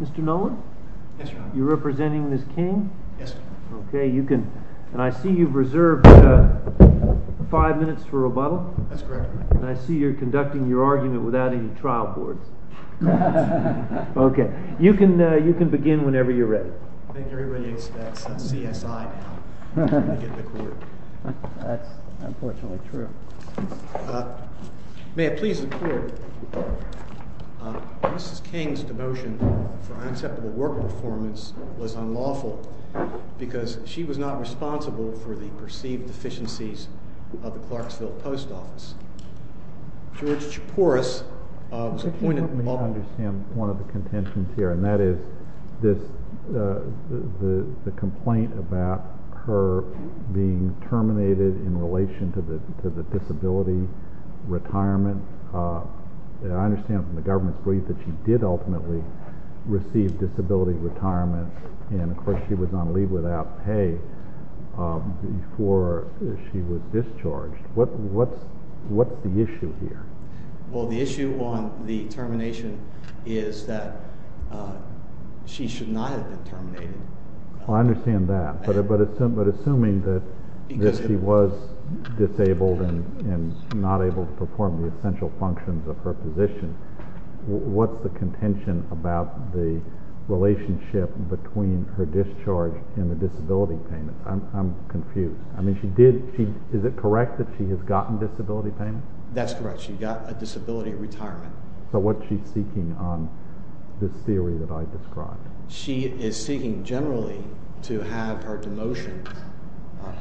Mr. Noland, you are representing Ms. King. I see you have reserved five minutes for rebuttal and I see you are conducting your argument without any trial board. OK. You can begin whenever you are ready. I think everybody hates that CSI now. That's unfortunately true. May I please report, Mrs. King's demotion for unacceptable work performance was unlawful because she was not responsible for the perceived deficiencies of the Clarksville Post Office. George Chaporas of the Point of Law. I think we need to understand one of the contentions here and that is the complaint about her being terminated in relation to the disability retirement. I understand from the government's brief that she did ultimately receive disability retirement and of course she was on leave without pay before she was discharged. What's the issue here? Well, the issue on the termination is that she should not have been terminated. I understand that, but assuming that she was disabled and not able to perform the essential functions of her position, what's the contention about the relationship between her discharge and the disability payment? I'm confused. I mean, is it correct that she has gotten disability payment? That's correct. She got a disability retirement. So what's she seeking on this theory that I described? She is seeking generally to have her demotion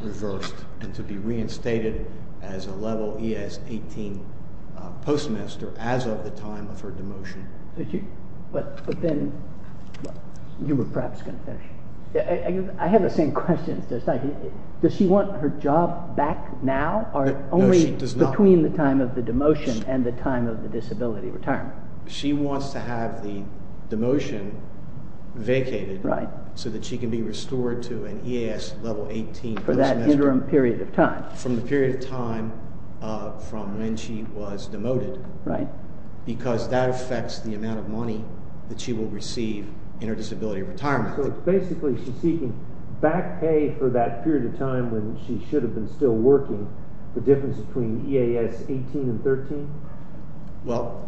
reversed and to be reinstated as a level ES-18 postmaster as of the time of her demotion. But then you were perhaps going to finish. I have the same question. Does she want her job back now or only between the time of the demotion and the time of the disability retirement? She wants to have the demotion vacated so that she can be restored to an ES-18 postmaster from the period of time from when she was demoted. Right. Because that affects the amount of money that she will receive in her disability retirement. So it's basically she's seeking back pay for that period of time when she should have been still working, the difference between ES-18 and 13? Well,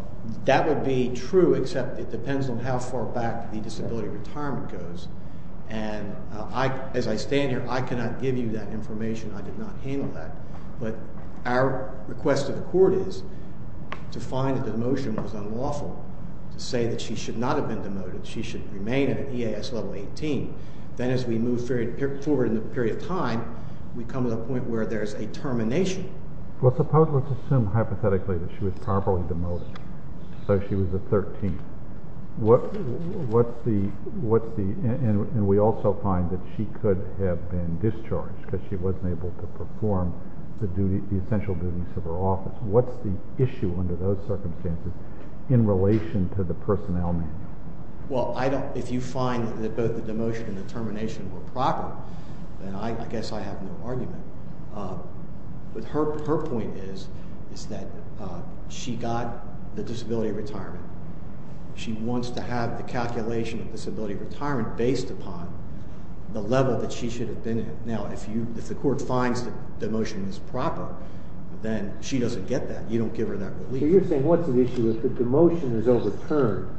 that would be true, except it depends on how far back the disability retirement goes. And as I stand here, I cannot give you that information. I did not handle that. But our request to the court is to find that the motion was unlawful to say that she should not have been demoted. She should remain an ES-18. Then as we move forward in the period of time, we come to the point where there's a termination. Well, suppose let's assume hypothetically that she was properly demoted, so she was a 13th. And we also find that she could have been discharged because she wasn't able to perform the essential duties of her office. What's the issue under those circumstances in relation to the personnel manual? Well, if you find that both the demotion and the termination were proper, then I guess I have no argument. But her point is that she got the disability retirement. She wants to have the calculation of disability retirement based upon the level that she should have been in. Now, if the court finds that demotion is proper, then she doesn't get that. You don't give her that relief. So you're saying what's the issue? If the demotion is overturned,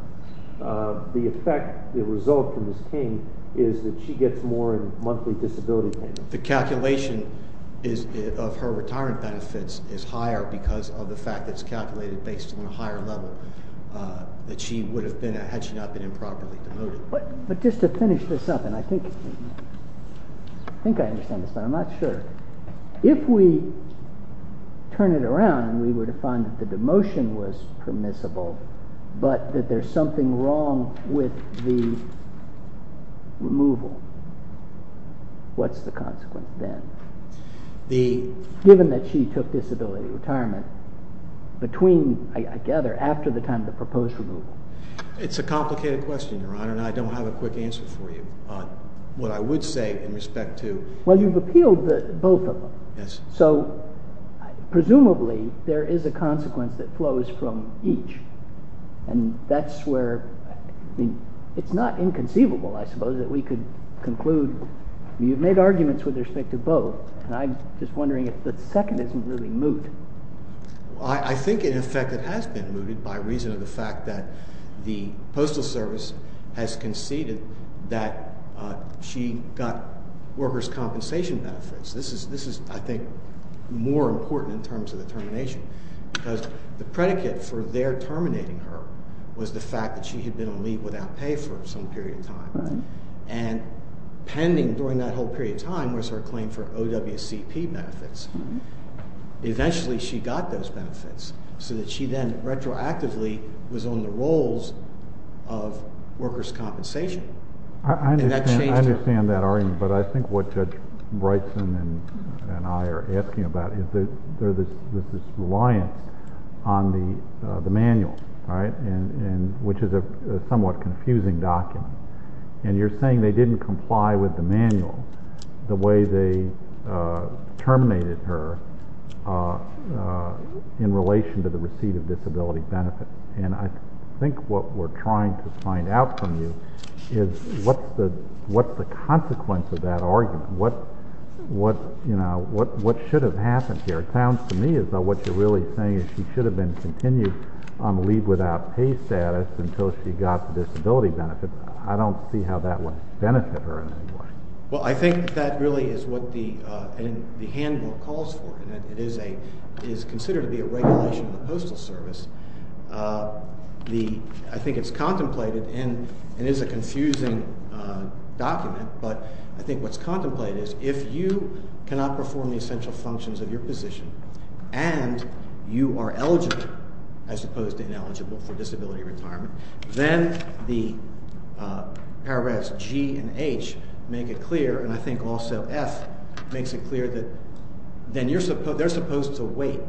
the effect, the result for Ms. King is that she gets more in monthly disability payments. The calculation of her retirement benefits is higher because of the fact that it's calculated based on a higher level that she would have been at had she not been improperly demoted. But just to finish this up, and I think I understand this, but I'm not sure. If we turn it around and we were to find that the demotion was permissible, but that there's something wrong with the removal, what's the consequence then? Given that she took disability retirement between, I gather, after the time of the proposed removal. It's a complicated question, Your Honor, and I don't have a quick answer for you on what I would say in respect to Well, you've appealed both of them, so presumably there is a consequence that flows from each. And that's where, I mean, it's not inconceivable, I suppose, that we could conclude. You've made arguments with respect to both, and I'm just wondering if the second isn't really moot. I think, in effect, it has been mooted by reason of the fact that the Postal Service has conceded that she got workers' compensation benefits. This is, I think, more important in terms of the termination. Because the predicate for their terminating her was the fact that she had been on leave without pay for some period of time. And pending during that whole period of time was her claim for OWCP benefits. Eventually, she got those benefits, so that she then retroactively was on the rolls of workers' compensation. And that changed her. I understand that argument, but I think what Judge Brightson and I are asking about is this reliance on the manual, which is a somewhat confusing document. And you're saying they didn't comply with the manual the way they terminated her in relation to the receipt of disability benefits. And I think what we're trying to find out from you is what's the consequence of that argument? What should have happened here? It sounds to me as though what you're really saying is she should have been continued on leave without pay status until she got the disability benefits. I don't see how that would benefit her in any way. Well, I think that really is what the handbook calls for. It is considered to be a regulation of the Postal Service. I think it's contemplated, and it is a confusing document. But I think what's contemplated is if you cannot perform the essential functions of your position and you are eligible as opposed to ineligible for disability retirement, then the paragraphs G and H make it clear, and I think also F makes it clear that they're supposed to wait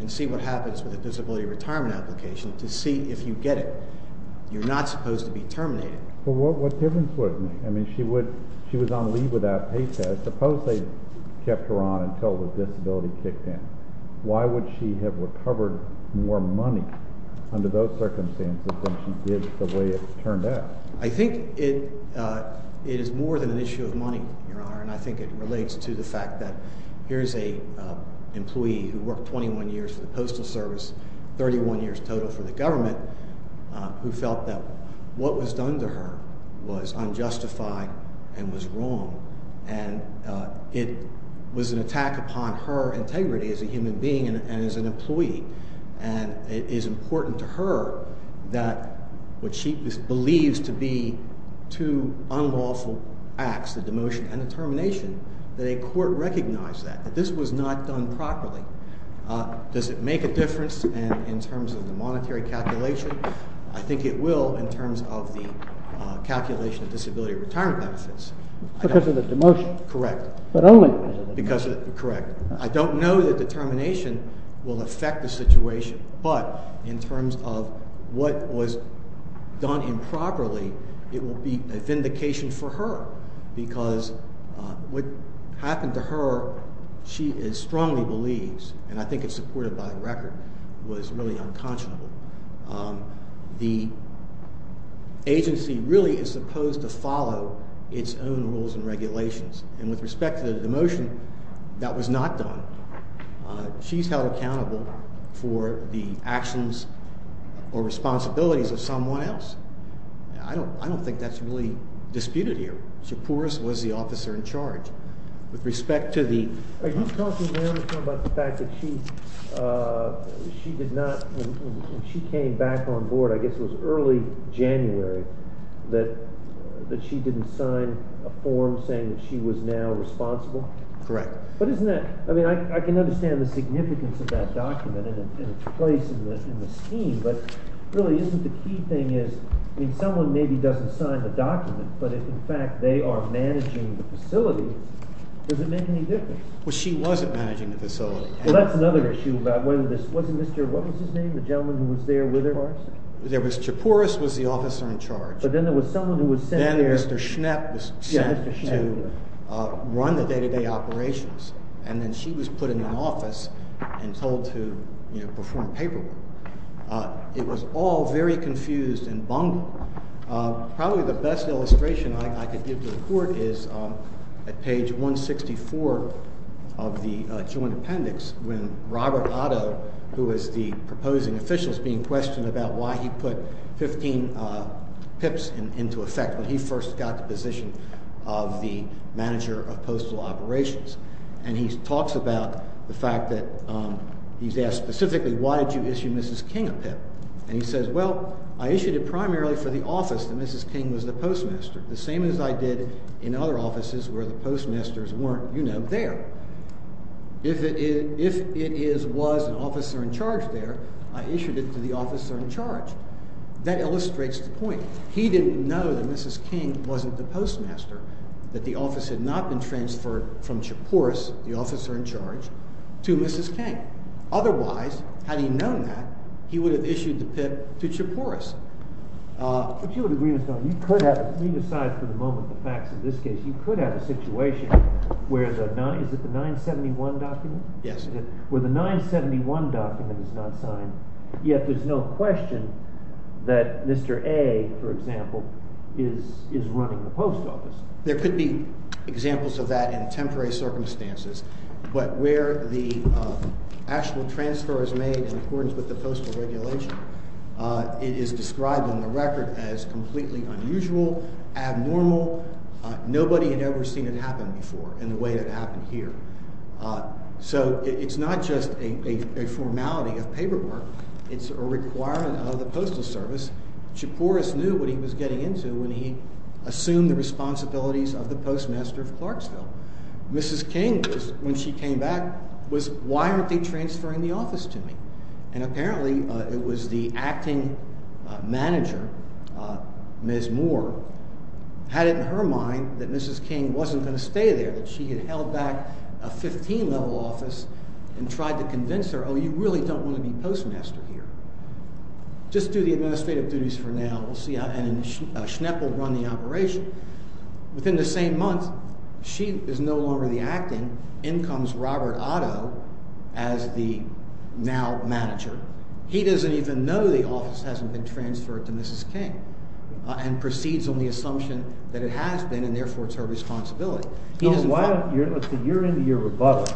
and see what happens with the disability retirement application to see if you get it. You're not supposed to be terminated. Well, what difference would it make? I mean, she was on leave without pay status. Suppose they kept her on until the disability kicked in. Why would she have recovered more money under those circumstances than she did the way it turned out? I think it is more than an issue of money, Your Honor, and I think it relates to the fact that here is an employee who worked 21 years for the Postal Service, 31 years total for the government, who felt that what was done to her was unjustified and was wrong. And it was an attack upon her integrity as a human being and as an employee. And it is important to her that what she believes to be two unlawful acts, the demotion and the termination, that a court recognize that, that this was not done properly. Does it make a difference in terms of the monetary calculation? I think it will in terms of the calculation of disability retirement benefits. Because of the demotion? Correct. But only because of the demotion? Correct. I don't know that the termination will affect the situation, but in terms of what was done improperly, it will be a vindication for her because what happened to her, she strongly believes, and I think it's supported by the record, was really unconscionable. The agency really is supposed to follow its own rules and regulations. And with respect to the demotion, that was not done. She's held accountable for the actions or responsibilities of someone else. I don't think that's really disputed here. Shapouris was the officer in charge. Are you talking now about the fact that when she came back on board, I guess it was early January, that she didn't sign a form saying that she was now responsible? Correct. I mean, I can understand the significance of that document and its place in the scheme, but really isn't the key thing is someone maybe doesn't sign the document, but in fact they are managing the facility. Does it make any difference? Well, she wasn't managing the facility. Well, that's another issue about whether this wasn't Mr.—what was his name? The gentleman who was there with her? Shapouris was the officer in charge. But then there was someone who was sent there. Mr. Schnepp was sent to run the day-to-day operations, and then she was put in an office and told to perform paperwork. It was all very confused and bungled. Probably the best illustration I could give to the court is at page 164 of the joint appendix when Robert Otto, who was the proposing official, is being questioned about why he put 15 PIPs into effect when he first got the position of the manager of postal operations. And he talks about the fact that he's asked specifically, why did you issue Mrs. King a PIP? And he says, well, I issued it primarily for the office that Mrs. King was the postmaster, the same as I did in other offices where the postmasters weren't, you know, there. If it was an officer in charge there, I issued it to the officer in charge. That illustrates the point. He didn't know that Mrs. King wasn't the postmaster, that the office had not been transferred from Shapouris, the officer in charge, to Mrs. King. And otherwise, had he known that, he would have issued the PIP to Shapouris. If you would agree with me, aside for the moment the facts of this case, you could have a situation where the 971 document is not signed, yet there's no question that Mr. A, for example, is running the post office. There could be examples of that in temporary circumstances. But where the actual transfer is made in accordance with the postal regulation, it is described on the record as completely unusual, abnormal. Nobody had ever seen it happen before in the way it happened here. So it's not just a formality of paperwork. It's a requirement of the postal service. Shapouris knew what he was getting into when he assumed the responsibilities of the postmaster of Clarksville. Mrs. King, when she came back, was, why aren't they transferring the office to me? And apparently it was the acting manager, Ms. Moore, had it in her mind that Mrs. King wasn't going to stay there. That she had held back a 15-level office and tried to convince her, oh, you really don't want to be postmaster here. Just do the administrative duties for now, and Schnepp will run the operation. Within the same month, she is no longer the acting. In comes Robert Otto as the now manager. He doesn't even know the office hasn't been transferred to Mrs. King, and proceeds on the assumption that it has been, and therefore it's her responsibility. You're into your rebuttal,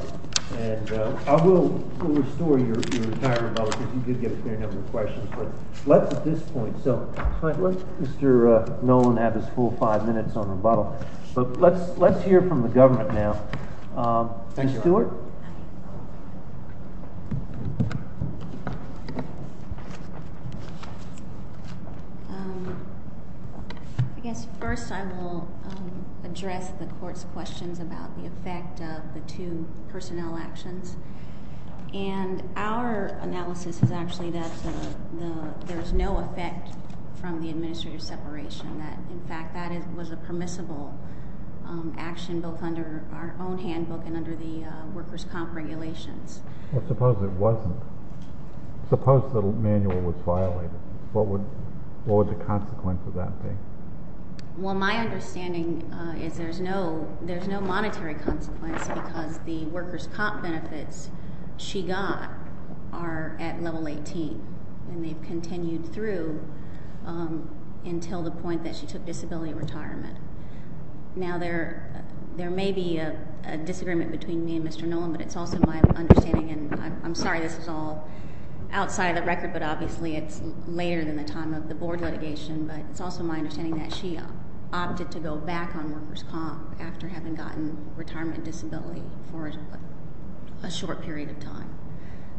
and I will restore your entire rebuttal, because you did get a fair number of questions. But let's, at this point, Mr. Nolan have his full five minutes on rebuttal. But let's hear from the government now. Ms. Stewart? I guess first I will address the court's questions about the effect of the two personnel actions. And our analysis is actually that there's no effect from the administrative separation. In fact, that was a permissible action both under our own handbook and under the workers' comp regulations. Suppose it wasn't. Suppose the manual was violated. What would the consequence of that be? Well, my understanding is there's no monetary consequence, because the workers' comp benefits she got are at level 18. And they've continued through until the point that she took disability retirement. Now, there may be a disagreement between me and Mr. Nolan, but it's also my understanding. And I'm sorry this is all outside of the record, but obviously it's later than the time of the board litigation. But it's also my understanding that she opted to go back on workers' comp after having gotten retirement disability for a short period of time.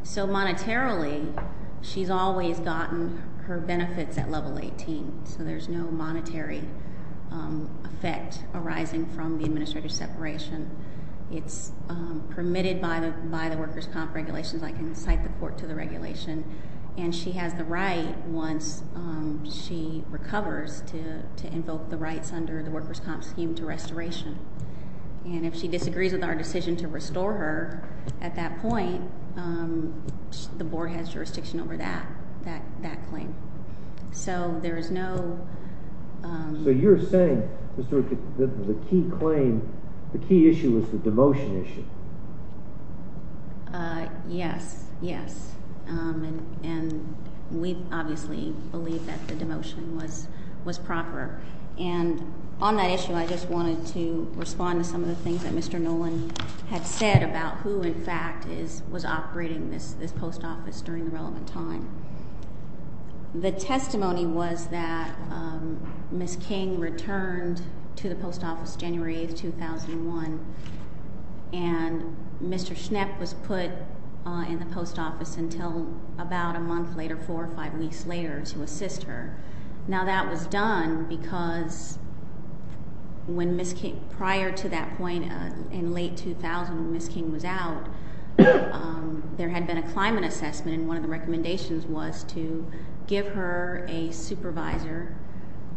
So monetarily, she's always gotten her benefits at level 18, so there's no monetary effect arising from the administrative separation. It's permitted by the workers' comp regulations. I can cite the court to the regulation. And she has the right, once she recovers, to invoke the rights under the workers' comp scheme to restoration. And if she disagrees with our decision to restore her at that point, the board has jurisdiction over that claim. So there is no— So you're saying, Mr. Rookett, that the key claim, the key issue is the demotion issue. Yes, yes. And we obviously believe that the demotion was proper. And on that issue, I just wanted to respond to some of the things that Mr. Nolan had said about who, in fact, was operating this post office during the relevant time. The testimony was that Ms. King returned to the post office January 8, 2001. And Mr. Schnepp was put in the post office until about a month later, four or five weeks later, to assist her. Now, that was done because when Ms. King—prior to that point, in late 2000, when Ms. King was out, there had been a climate assessment. And one of the recommendations was to give her a supervisor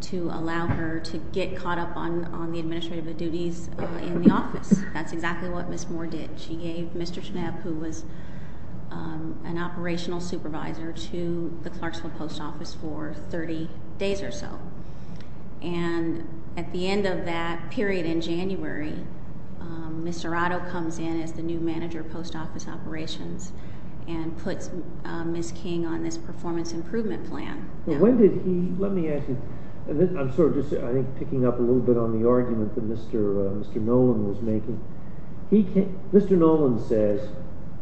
to allow her to get caught up on the administrative duties in the office. That's exactly what Ms. Moore did. She gave Mr. Schnepp, who was an operational supervisor, to the Clarksville post office for 30 days or so. And at the end of that period in January, Mr. Otto comes in as the new manager of post office operations and puts Ms. King on this performance improvement plan. Let me ask you—I'm sort of just picking up a little bit on the argument that Mr. Nolan was making. Mr. Nolan says,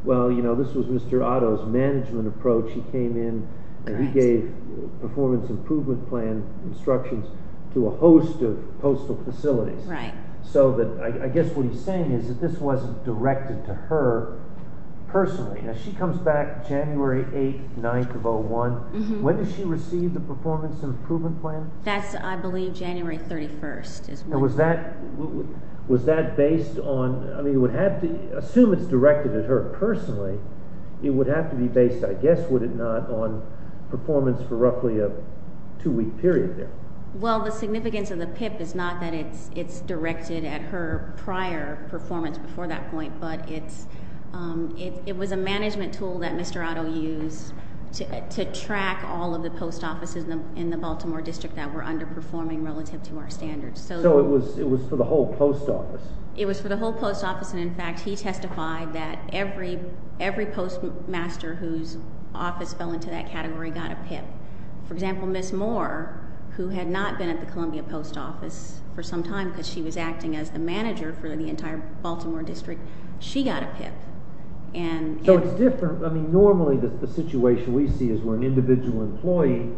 well, you know, this was Mr. Otto's management approach. He came in and he gave performance improvement plan instructions to a host of postal facilities. So I guess what he's saying is that this wasn't directed to her personally. She comes back January 8th, 9th of 2001. When did she receive the performance improvement plan? That's, I believe, January 31st. Was that based on—assume it's directed at her personally, it would have to be based, I guess, would it not, on performance for roughly a two-week period there? Well, the significance of the PIP is not that it's directed at her prior performance before that point, but it was a management tool that Mr. Otto used to track all of the post offices in the Baltimore district that were underperforming relative to our standards. So it was for the whole post office? It was for the whole post office, and in fact, he testified that every postmaster whose office fell into that category got a PIP. For example, Ms. Moore, who had not been at the Columbia post office for some time because she was acting as the manager for the entire Baltimore district, she got a PIP. So it's different. I mean, normally the situation we see is where an individual employee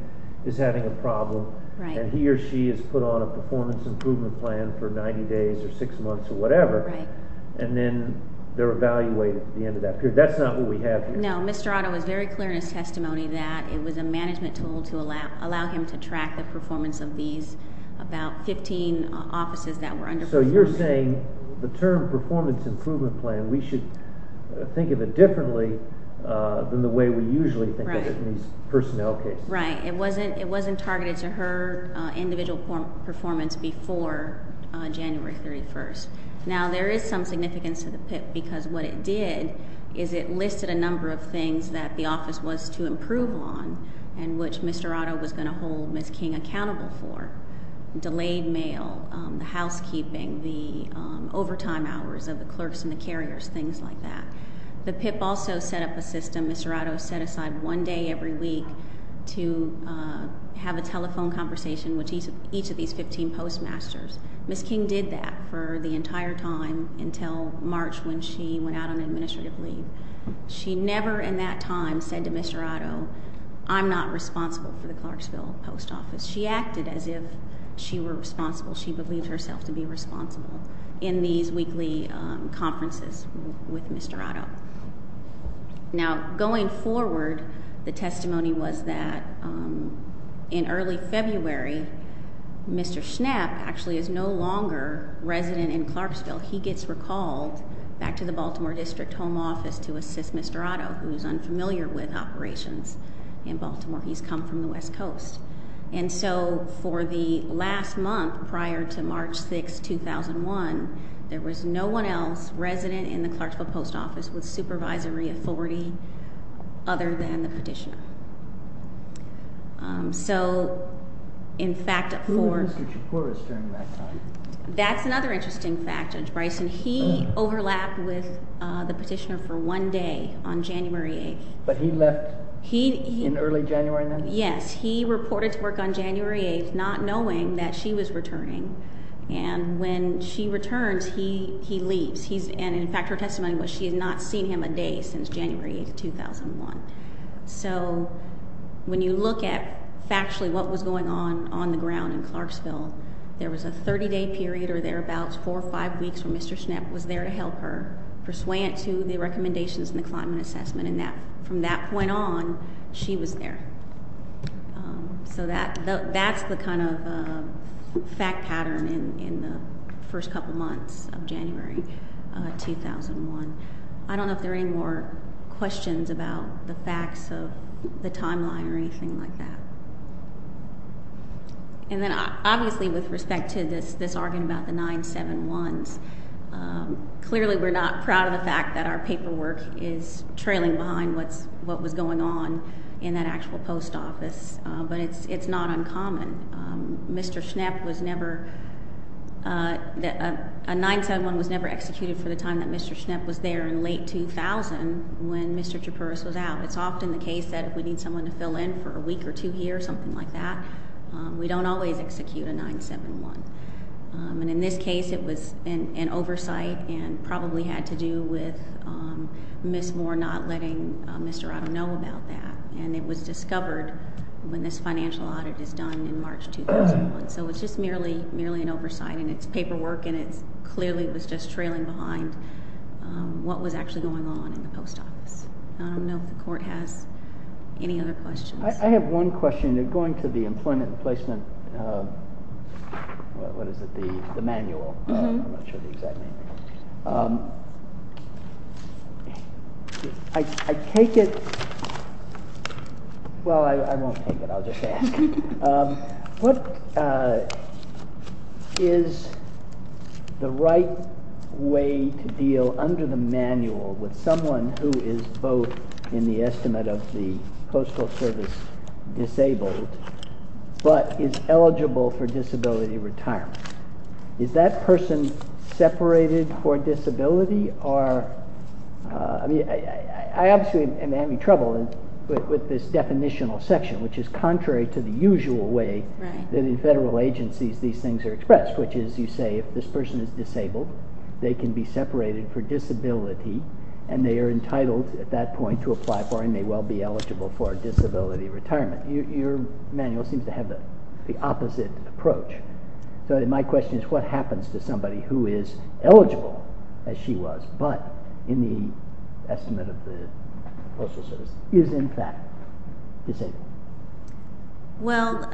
is having a problem, and he or she is put on a performance improvement plan for 90 days or six months or whatever, and then they're evaluated at the end of that period. That's not what we have here. No, Mr. Otto is very clear in his testimony that it was a management tool to allow him to track the performance of these about 15 offices that were underperforming. So you're saying the term performance improvement plan, we should think of it differently than the way we usually think of it in these personnel cases. Right. It wasn't targeted to her individual performance before January 31st. Now, there is some significance to the PIP because what it did is it listed a number of things that the office was to improve on and which Mr. Otto was going to hold Ms. King accountable for. Delayed mail, the housekeeping, the overtime hours of the clerks and the carriers, things like that. The PIP also set up a system. Mr. Otto set aside one day every week to have a telephone conversation with each of these 15 postmasters. Ms. King did that for the entire time until March when she went out on administrative leave. She never in that time said to Mr. Otto, I'm not responsible for the Clarksville post office. She acted as if she were responsible. She believed herself to be responsible in these weekly conferences with Mr. Otto. Now, going forward, the testimony was that in early February, Mr. Schnapp actually is no longer resident in Clarksville. He gets recalled back to the Baltimore District Home Office to assist Mr. Otto, who is unfamiliar with operations in Baltimore. He's come from the West Coast. And so for the last month prior to March 6, 2001, there was no one else resident in the Clarksville post office with supervisory authority other than the petitioner. So, in fact, that's another interesting fact, Judge Bryson. He overlapped with the petitioner for one day on January 8th. But he left in early January then? Yes, he reported to work on January 8th not knowing that she was returning. And when she returns, he leaves. And, in fact, her testimony was she had not seen him a day since January 8th, 2001. So when you look at factually what was going on on the ground in Clarksville, there was a 30-day period or thereabouts, four or five weeks, where Mr. Schnapp was there to help her persuade to the recommendations in the climate assessment. And from that point on, she was there. So that's the kind of fact pattern in the first couple months of January 2001. I don't know if there are any more questions about the facts of the timeline or anything like that. And then, obviously, with respect to this argument about the 971s, clearly we're not proud of the fact that our paperwork is trailing behind what was going on in that actual post office. But it's not uncommon. Mr. Schnapp was never – a 971 was never executed for the time that Mr. Schnapp was there in late 2000 when Mr. Chapurris was out. It's often the case that if we need someone to fill in for a week or two here, something like that, we don't always execute a 971. And in this case, it was an oversight and probably had to do with Ms. Moore not letting Mr. Otto know about that. And it was discovered when this financial audit is done in March 2001. So it's just merely an oversight, and it's paperwork, and it clearly was just trailing behind what was actually going on in the post office. I don't know if the court has any other questions. I have one question. Going to the employment and placement – what is it? The manual. I'm not sure the exact name. I take it – well, I won't take it. I'll just ask. What is the right way to deal under the manual with someone who is both in the estimate of the Postal Service disabled but is eligible for disability retirement? Is that person separated for disability? I obviously am having trouble with this definitional section, which is contrary to the usual way that in federal agencies these things are expressed, which is you say if this person is disabled, they can be separated for disability, and they are entitled at that point to apply for and may well be eligible for disability retirement. Your manual seems to have the opposite approach. So my question is what happens to somebody who is eligible, as she was, but in the estimate of the Postal Service is in fact disabled? Well,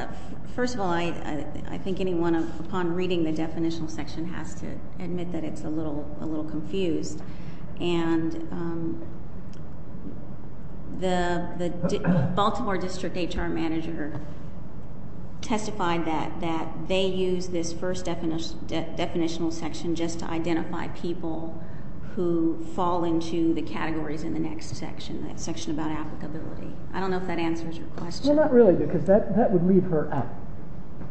first of all, I think anyone upon reading the definitional section has to admit that it's a little confused. And the Baltimore district HR manager testified that they used this first definitional section just to identify people who fall into the categories in the next section, that section about applicability. I don't know if that answers your question. Well, not really, because that would leave her out.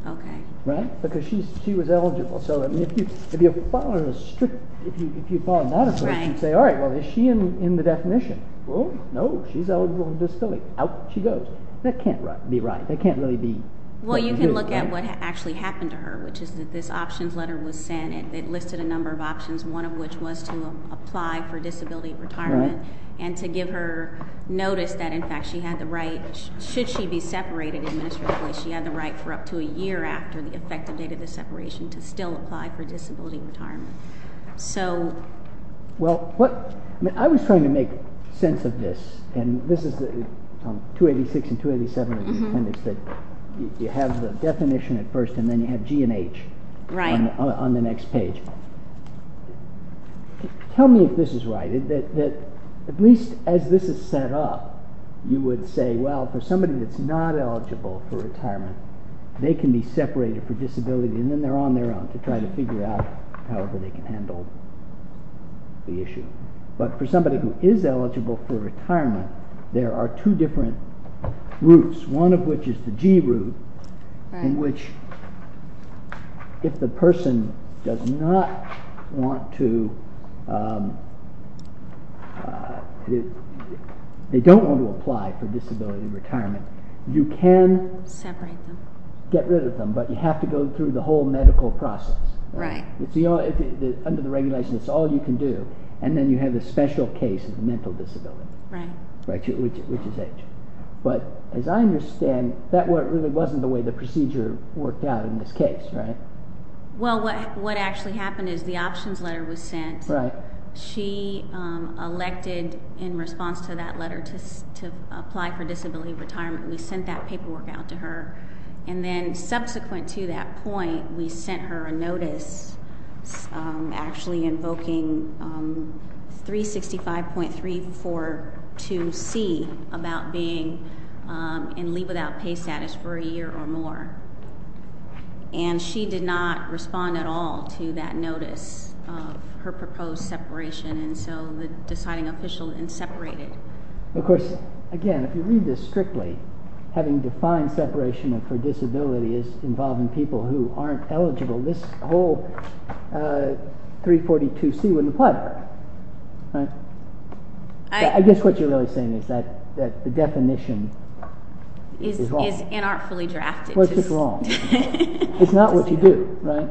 Okay. Right? Because she was eligible. So if you follow a strict, if you follow that approach, you'd say, all right, well, is she in the definition? Well, no, she's eligible for disability. Out she goes. That can't be right. That can't really be. Well, you can look at what actually happened to her, which is that this options letter was sent. It listed a number of options, one of which was to apply for disability retirement and to give her notice that, in fact, she had the right. Should she be separated administratively, she had the right for up to a year after the effective date of the separation to still apply for disability retirement. So. Well, I was trying to make sense of this, and this is 286 and 287 of the appendix, that you have the definition at first and then you have G and H on the next page. Right. Tell me if this is right, that at least as this is set up, you would say, well, for somebody that's not eligible for retirement, they can be separated for disability and then they're on their own to try to figure out how they can handle the issue. But for somebody who is eligible for retirement, there are two different routes, one of which is the G route, in which if the person does not want to, they don't want to apply for disability retirement, you can get rid of them, but you have to go through the whole medical process. Right. Under the regulation, it's all you can do, and then you have the special case of mental disability. Right. Which is H. But as I understand, that really wasn't the way the procedure worked out in this case, right? Well, what actually happened is the options letter was sent. Right. She elected in response to that letter to apply for disability retirement. We sent that paperwork out to her. And then subsequent to that point, we sent her a notice actually invoking 365.342C about being in leave without pay status for a year or more. And she did not respond at all to that notice of her proposed separation, and so the deciding official then separated. Of course, again, if you read this strictly, having defined separation for disability is involving people who aren't eligible. This whole 342C wouldn't apply to her. Right. I guess what you're really saying is that the definition is wrong. What's wrong? It's not what you do, right?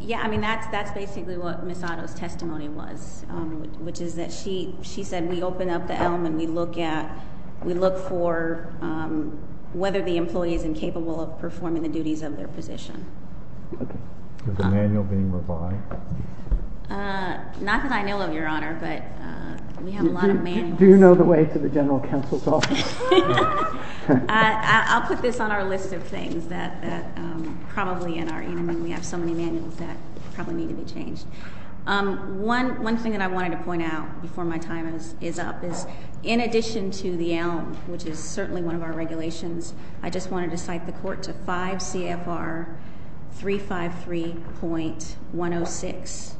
Yeah, I mean, that's basically what Ms. Otto's testimony was, which is that she said we open up the elm and we look for whether the employee is incapable of performing the duties of their position. Okay. Is the manual being revised? Not that I know of, Your Honor, but we have a lot of manuals. Do you know the way to the general counsel's office? I'll put this on our list of things that probably in our evening we have so many manuals that probably need to be changed. One thing that I wanted to point out before my time is up is in addition to the elm, which is certainly one of our regulations, I just wanted to cite the court to 5 CFR 353.106.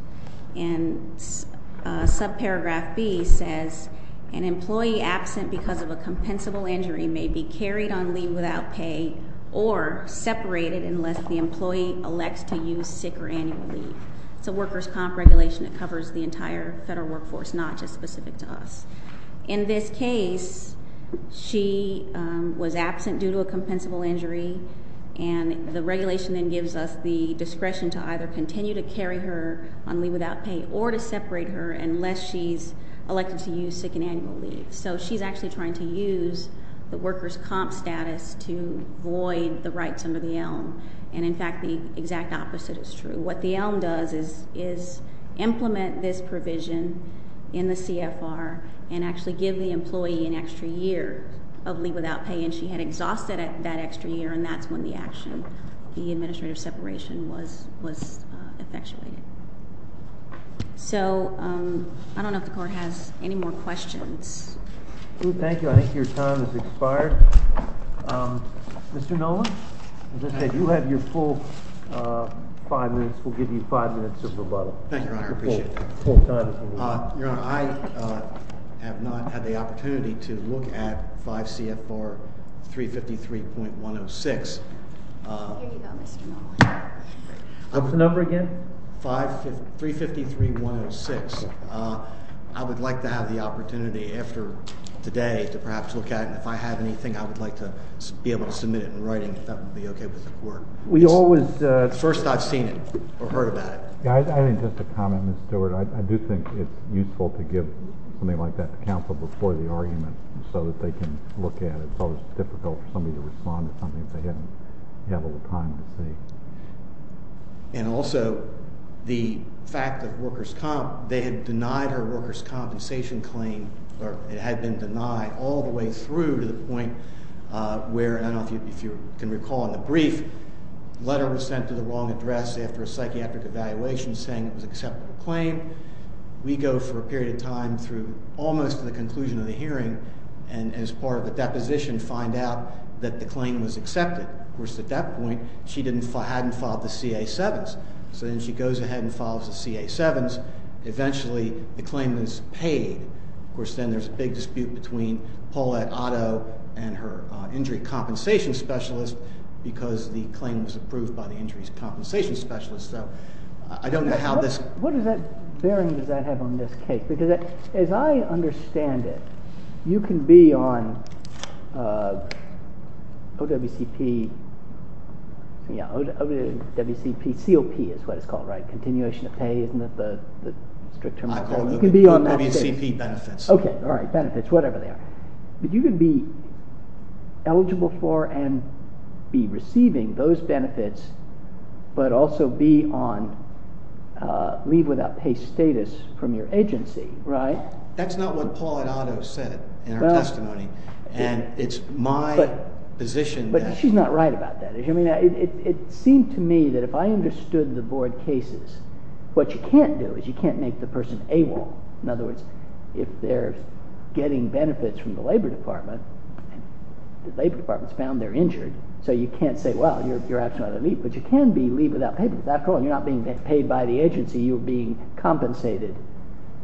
And subparagraph B says an employee absent because of a compensable injury may be carried on leave without pay or separated unless the employee elects to use sick or annual leave. It's a workers' comp regulation that covers the entire federal workforce, not just specific to us. In this case, she was absent due to a compensable injury, and the regulation then gives us the discretion to either continue to carry her on leave without pay or to separate her unless she's elected to use sick and annual leave. So she's actually trying to use the workers' comp status to void the rights under the elm. And, in fact, the exact opposite is true. What the elm does is implement this provision in the CFR and actually give the employee an extra year of leave without pay. And she had exhausted that extra year, and that's when the action, the administrative separation, was effectuated. So I don't know if the court has any more questions. Thank you. I think your time has expired. Mr. Noland, as I said, you have your full five minutes. We'll give you five minutes of rebuttal. Thank you, Your Honor. I appreciate that. Your Honor, I have not had the opportunity to look at 5 CFR 353.106. Here you go, Mr. Noland. What was the number again? 353.106. I would like to have the opportunity after today to perhaps look at it. If I have anything, I would like to be able to submit it in writing, if that would be okay with the court. We always First, I've seen it or heard about it. I think just a comment, Mr. Stewart. I do think it's useful to give something like that to counsel before the argument so that they can look at it. It's always difficult for somebody to respond to something if they haven't had all the time to see. And also, the fact that workers' comp, they had denied her workers' compensation claim, or it had been denied all the way through to the point where, I don't know if you can recall in the brief, a letter was sent to the wrong address after a psychiatric evaluation saying it was an acceptable claim. We go for a period of time through almost to the conclusion of the hearing, and as part of the deposition find out that the claim was accepted. Of course, at that point, she hadn't filed the CA-7s. So then she goes ahead and files the CA-7s. Eventually, the claim is paid. Of course, then there's a big dispute between Paulette Otto and her injury compensation specialist because the claim was approved by the injury compensation specialist. I don't know how this What bearing does that have on this case? Because as I understand it, you can be on OWCP, COP is what it's called, right? Continuation of Pay, isn't that the strict term? I call it OWCP benefits. Okay, all right, benefits, whatever they are. But you can be eligible for and be receiving those benefits, but also be on leave without pay status from your agency, right? That's not what Paulette Otto said in her testimony, and it's my position that But she's not right about that. It seemed to me that if I understood the board cases, what you can't do is you can't make the person AWOL. In other words, if they're getting benefits from the Labor Department, and the Labor Department's found they're injured, so you can't say, well, you're actually on leave. But you can be leave without pay. You're not being paid by the agency, you're being compensated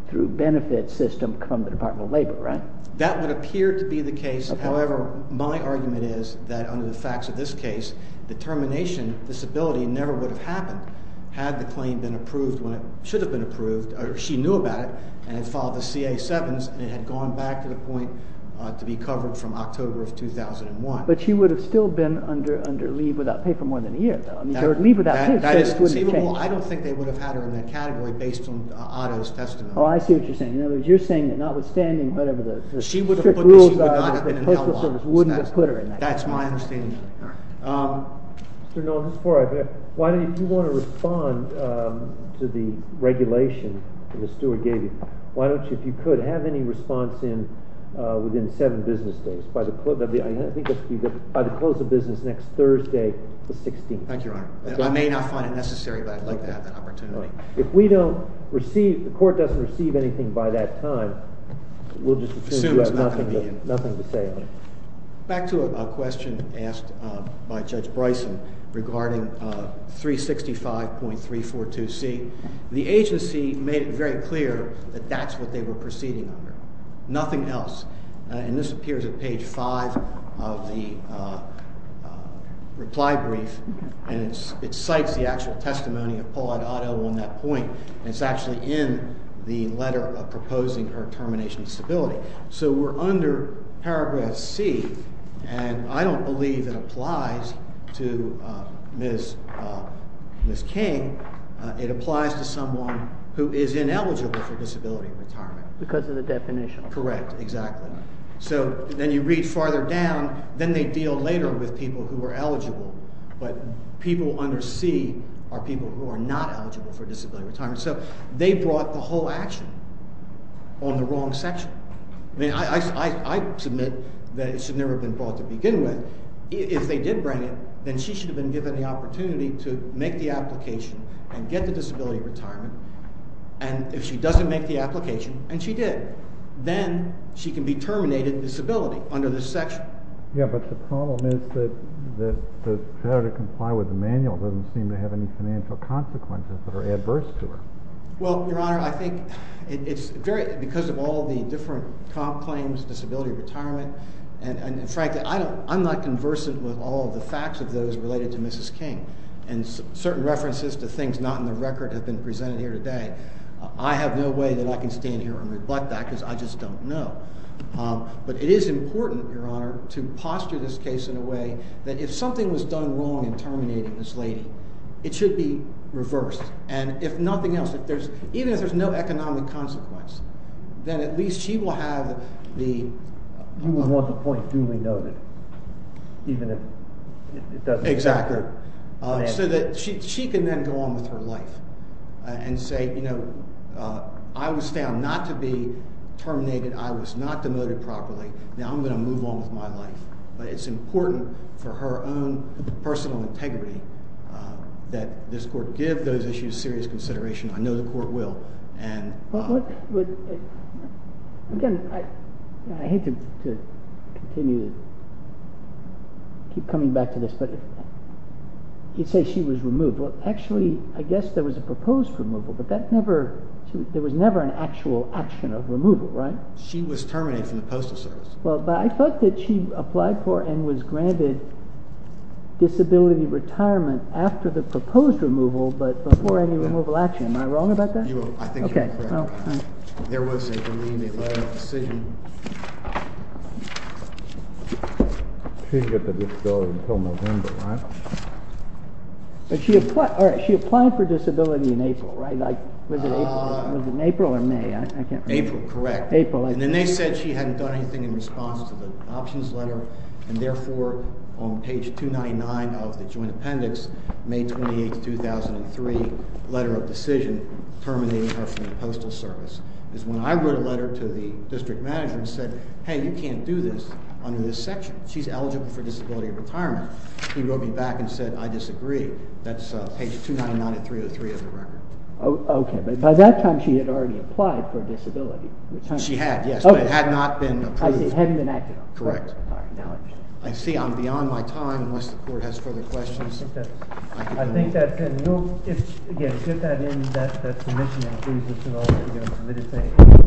through benefit system from the Department of Labor, right? That would appear to be the case. However, my argument is that under the facts of this case, the termination disability never would have happened had the claim been approved when it should have been approved. She knew about it and had filed the CA-7s, and it had gone back to the point to be covered from October of 2001. But she would have still been under leave without pay for more than a year, though. I mean, her leave without pay status wouldn't have changed. That is conceivable. I don't think they would have had her in that category based on Otto's testimony. Oh, I see what you're saying. In other words, you're saying that notwithstanding whatever the strict rules are, the Postal Service wouldn't have put her in that category. That's my understanding of it. Mr. Noll, if you want to respond to the regulation that the steward gave you, why don't you, if you could, have any response within seven business days? By the close of business next Thursday, the 16th. Thank you, Your Honor. I may not find it necessary, but I'd like to have that opportunity. If the court doesn't receive anything by that time, we'll just assume you have nothing to say on it. Back to a question asked by Judge Bryson regarding 365.342C. The agency made it very clear that that's what they were proceeding under, nothing else. And this appears at page five of the reply brief, and it cites the actual testimony of Paulette Otto on that point. And it's actually in the letter proposing her termination of stability. So we're under paragraph C, and I don't believe it applies to Ms. King. It applies to someone who is ineligible for disability retirement. Because of the definition. Correct, exactly. So then you read farther down, then they deal later with people who are eligible, but people under C are people who are not eligible for disability retirement. So they brought the whole action on the wrong section. I mean, I submit that it should never have been brought to begin with. If they did bring it, then she should have been given the opportunity to make the application and get the disability retirement. And if she doesn't make the application, and she did, then she can be terminated of disability under this section. Yeah, but the problem is that the failure to comply with the manual doesn't seem to have any financial consequences that are adverse to her. Well, Your Honor, I think it's because of all the different claims, disability retirement, and frankly, I'm not conversant with all of the facts of those related to Mrs. King. And certain references to things not in the record have been presented here today. I have no way that I can stand here and rebut that because I just don't know. But it is important, Your Honor, to posture this case in a way that if something was done wrong in terminating this lady, it should be reversed. And if nothing else, even if there's no economic consequence, then at least she will have the... You would want the point duly noted, even if it doesn't... Exactly. So that she can then go on with her life and say, you know, I was found not to be terminated, I was not demoted properly, now I'm going to move on with my life. But it's important for her own personal integrity that this court give those issues serious consideration. I know the court will. And... Again, I hate to continue to keep coming back to this, but you say she was removed. Well, actually, I guess there was a proposed removal, but there was never an actual action of removal, right? She was terminated from the postal service. Well, but I thought that she applied for and was granted disability retirement after the proposed removal, but before any removal action. Am I wrong about that? I think you're correct. There was, I believe, a letter of decision. She didn't get the disability until November, right? But she applied for disability in April, right? Was it April or May? April, correct. And then they said she hadn't done anything in response to the options letter, and therefore on page 299 of the joint appendix, May 28, 2003, letter of decision terminating her from the postal service, is when I wrote a letter to the district manager and said, hey, you can't do this under this section. She's eligible for disability retirement. He wrote me back and said, I disagree. That's page 299 of 303 of the record. Okay, but by that time she had already applied for disability. She had, yes, but it had not been approved. It hadn't been acted on. Correct. I see I'm beyond my time unless the court has further questions. I think that's it. I think that's it. Yes, get that in the subcommittee and please let us know what you're going to say.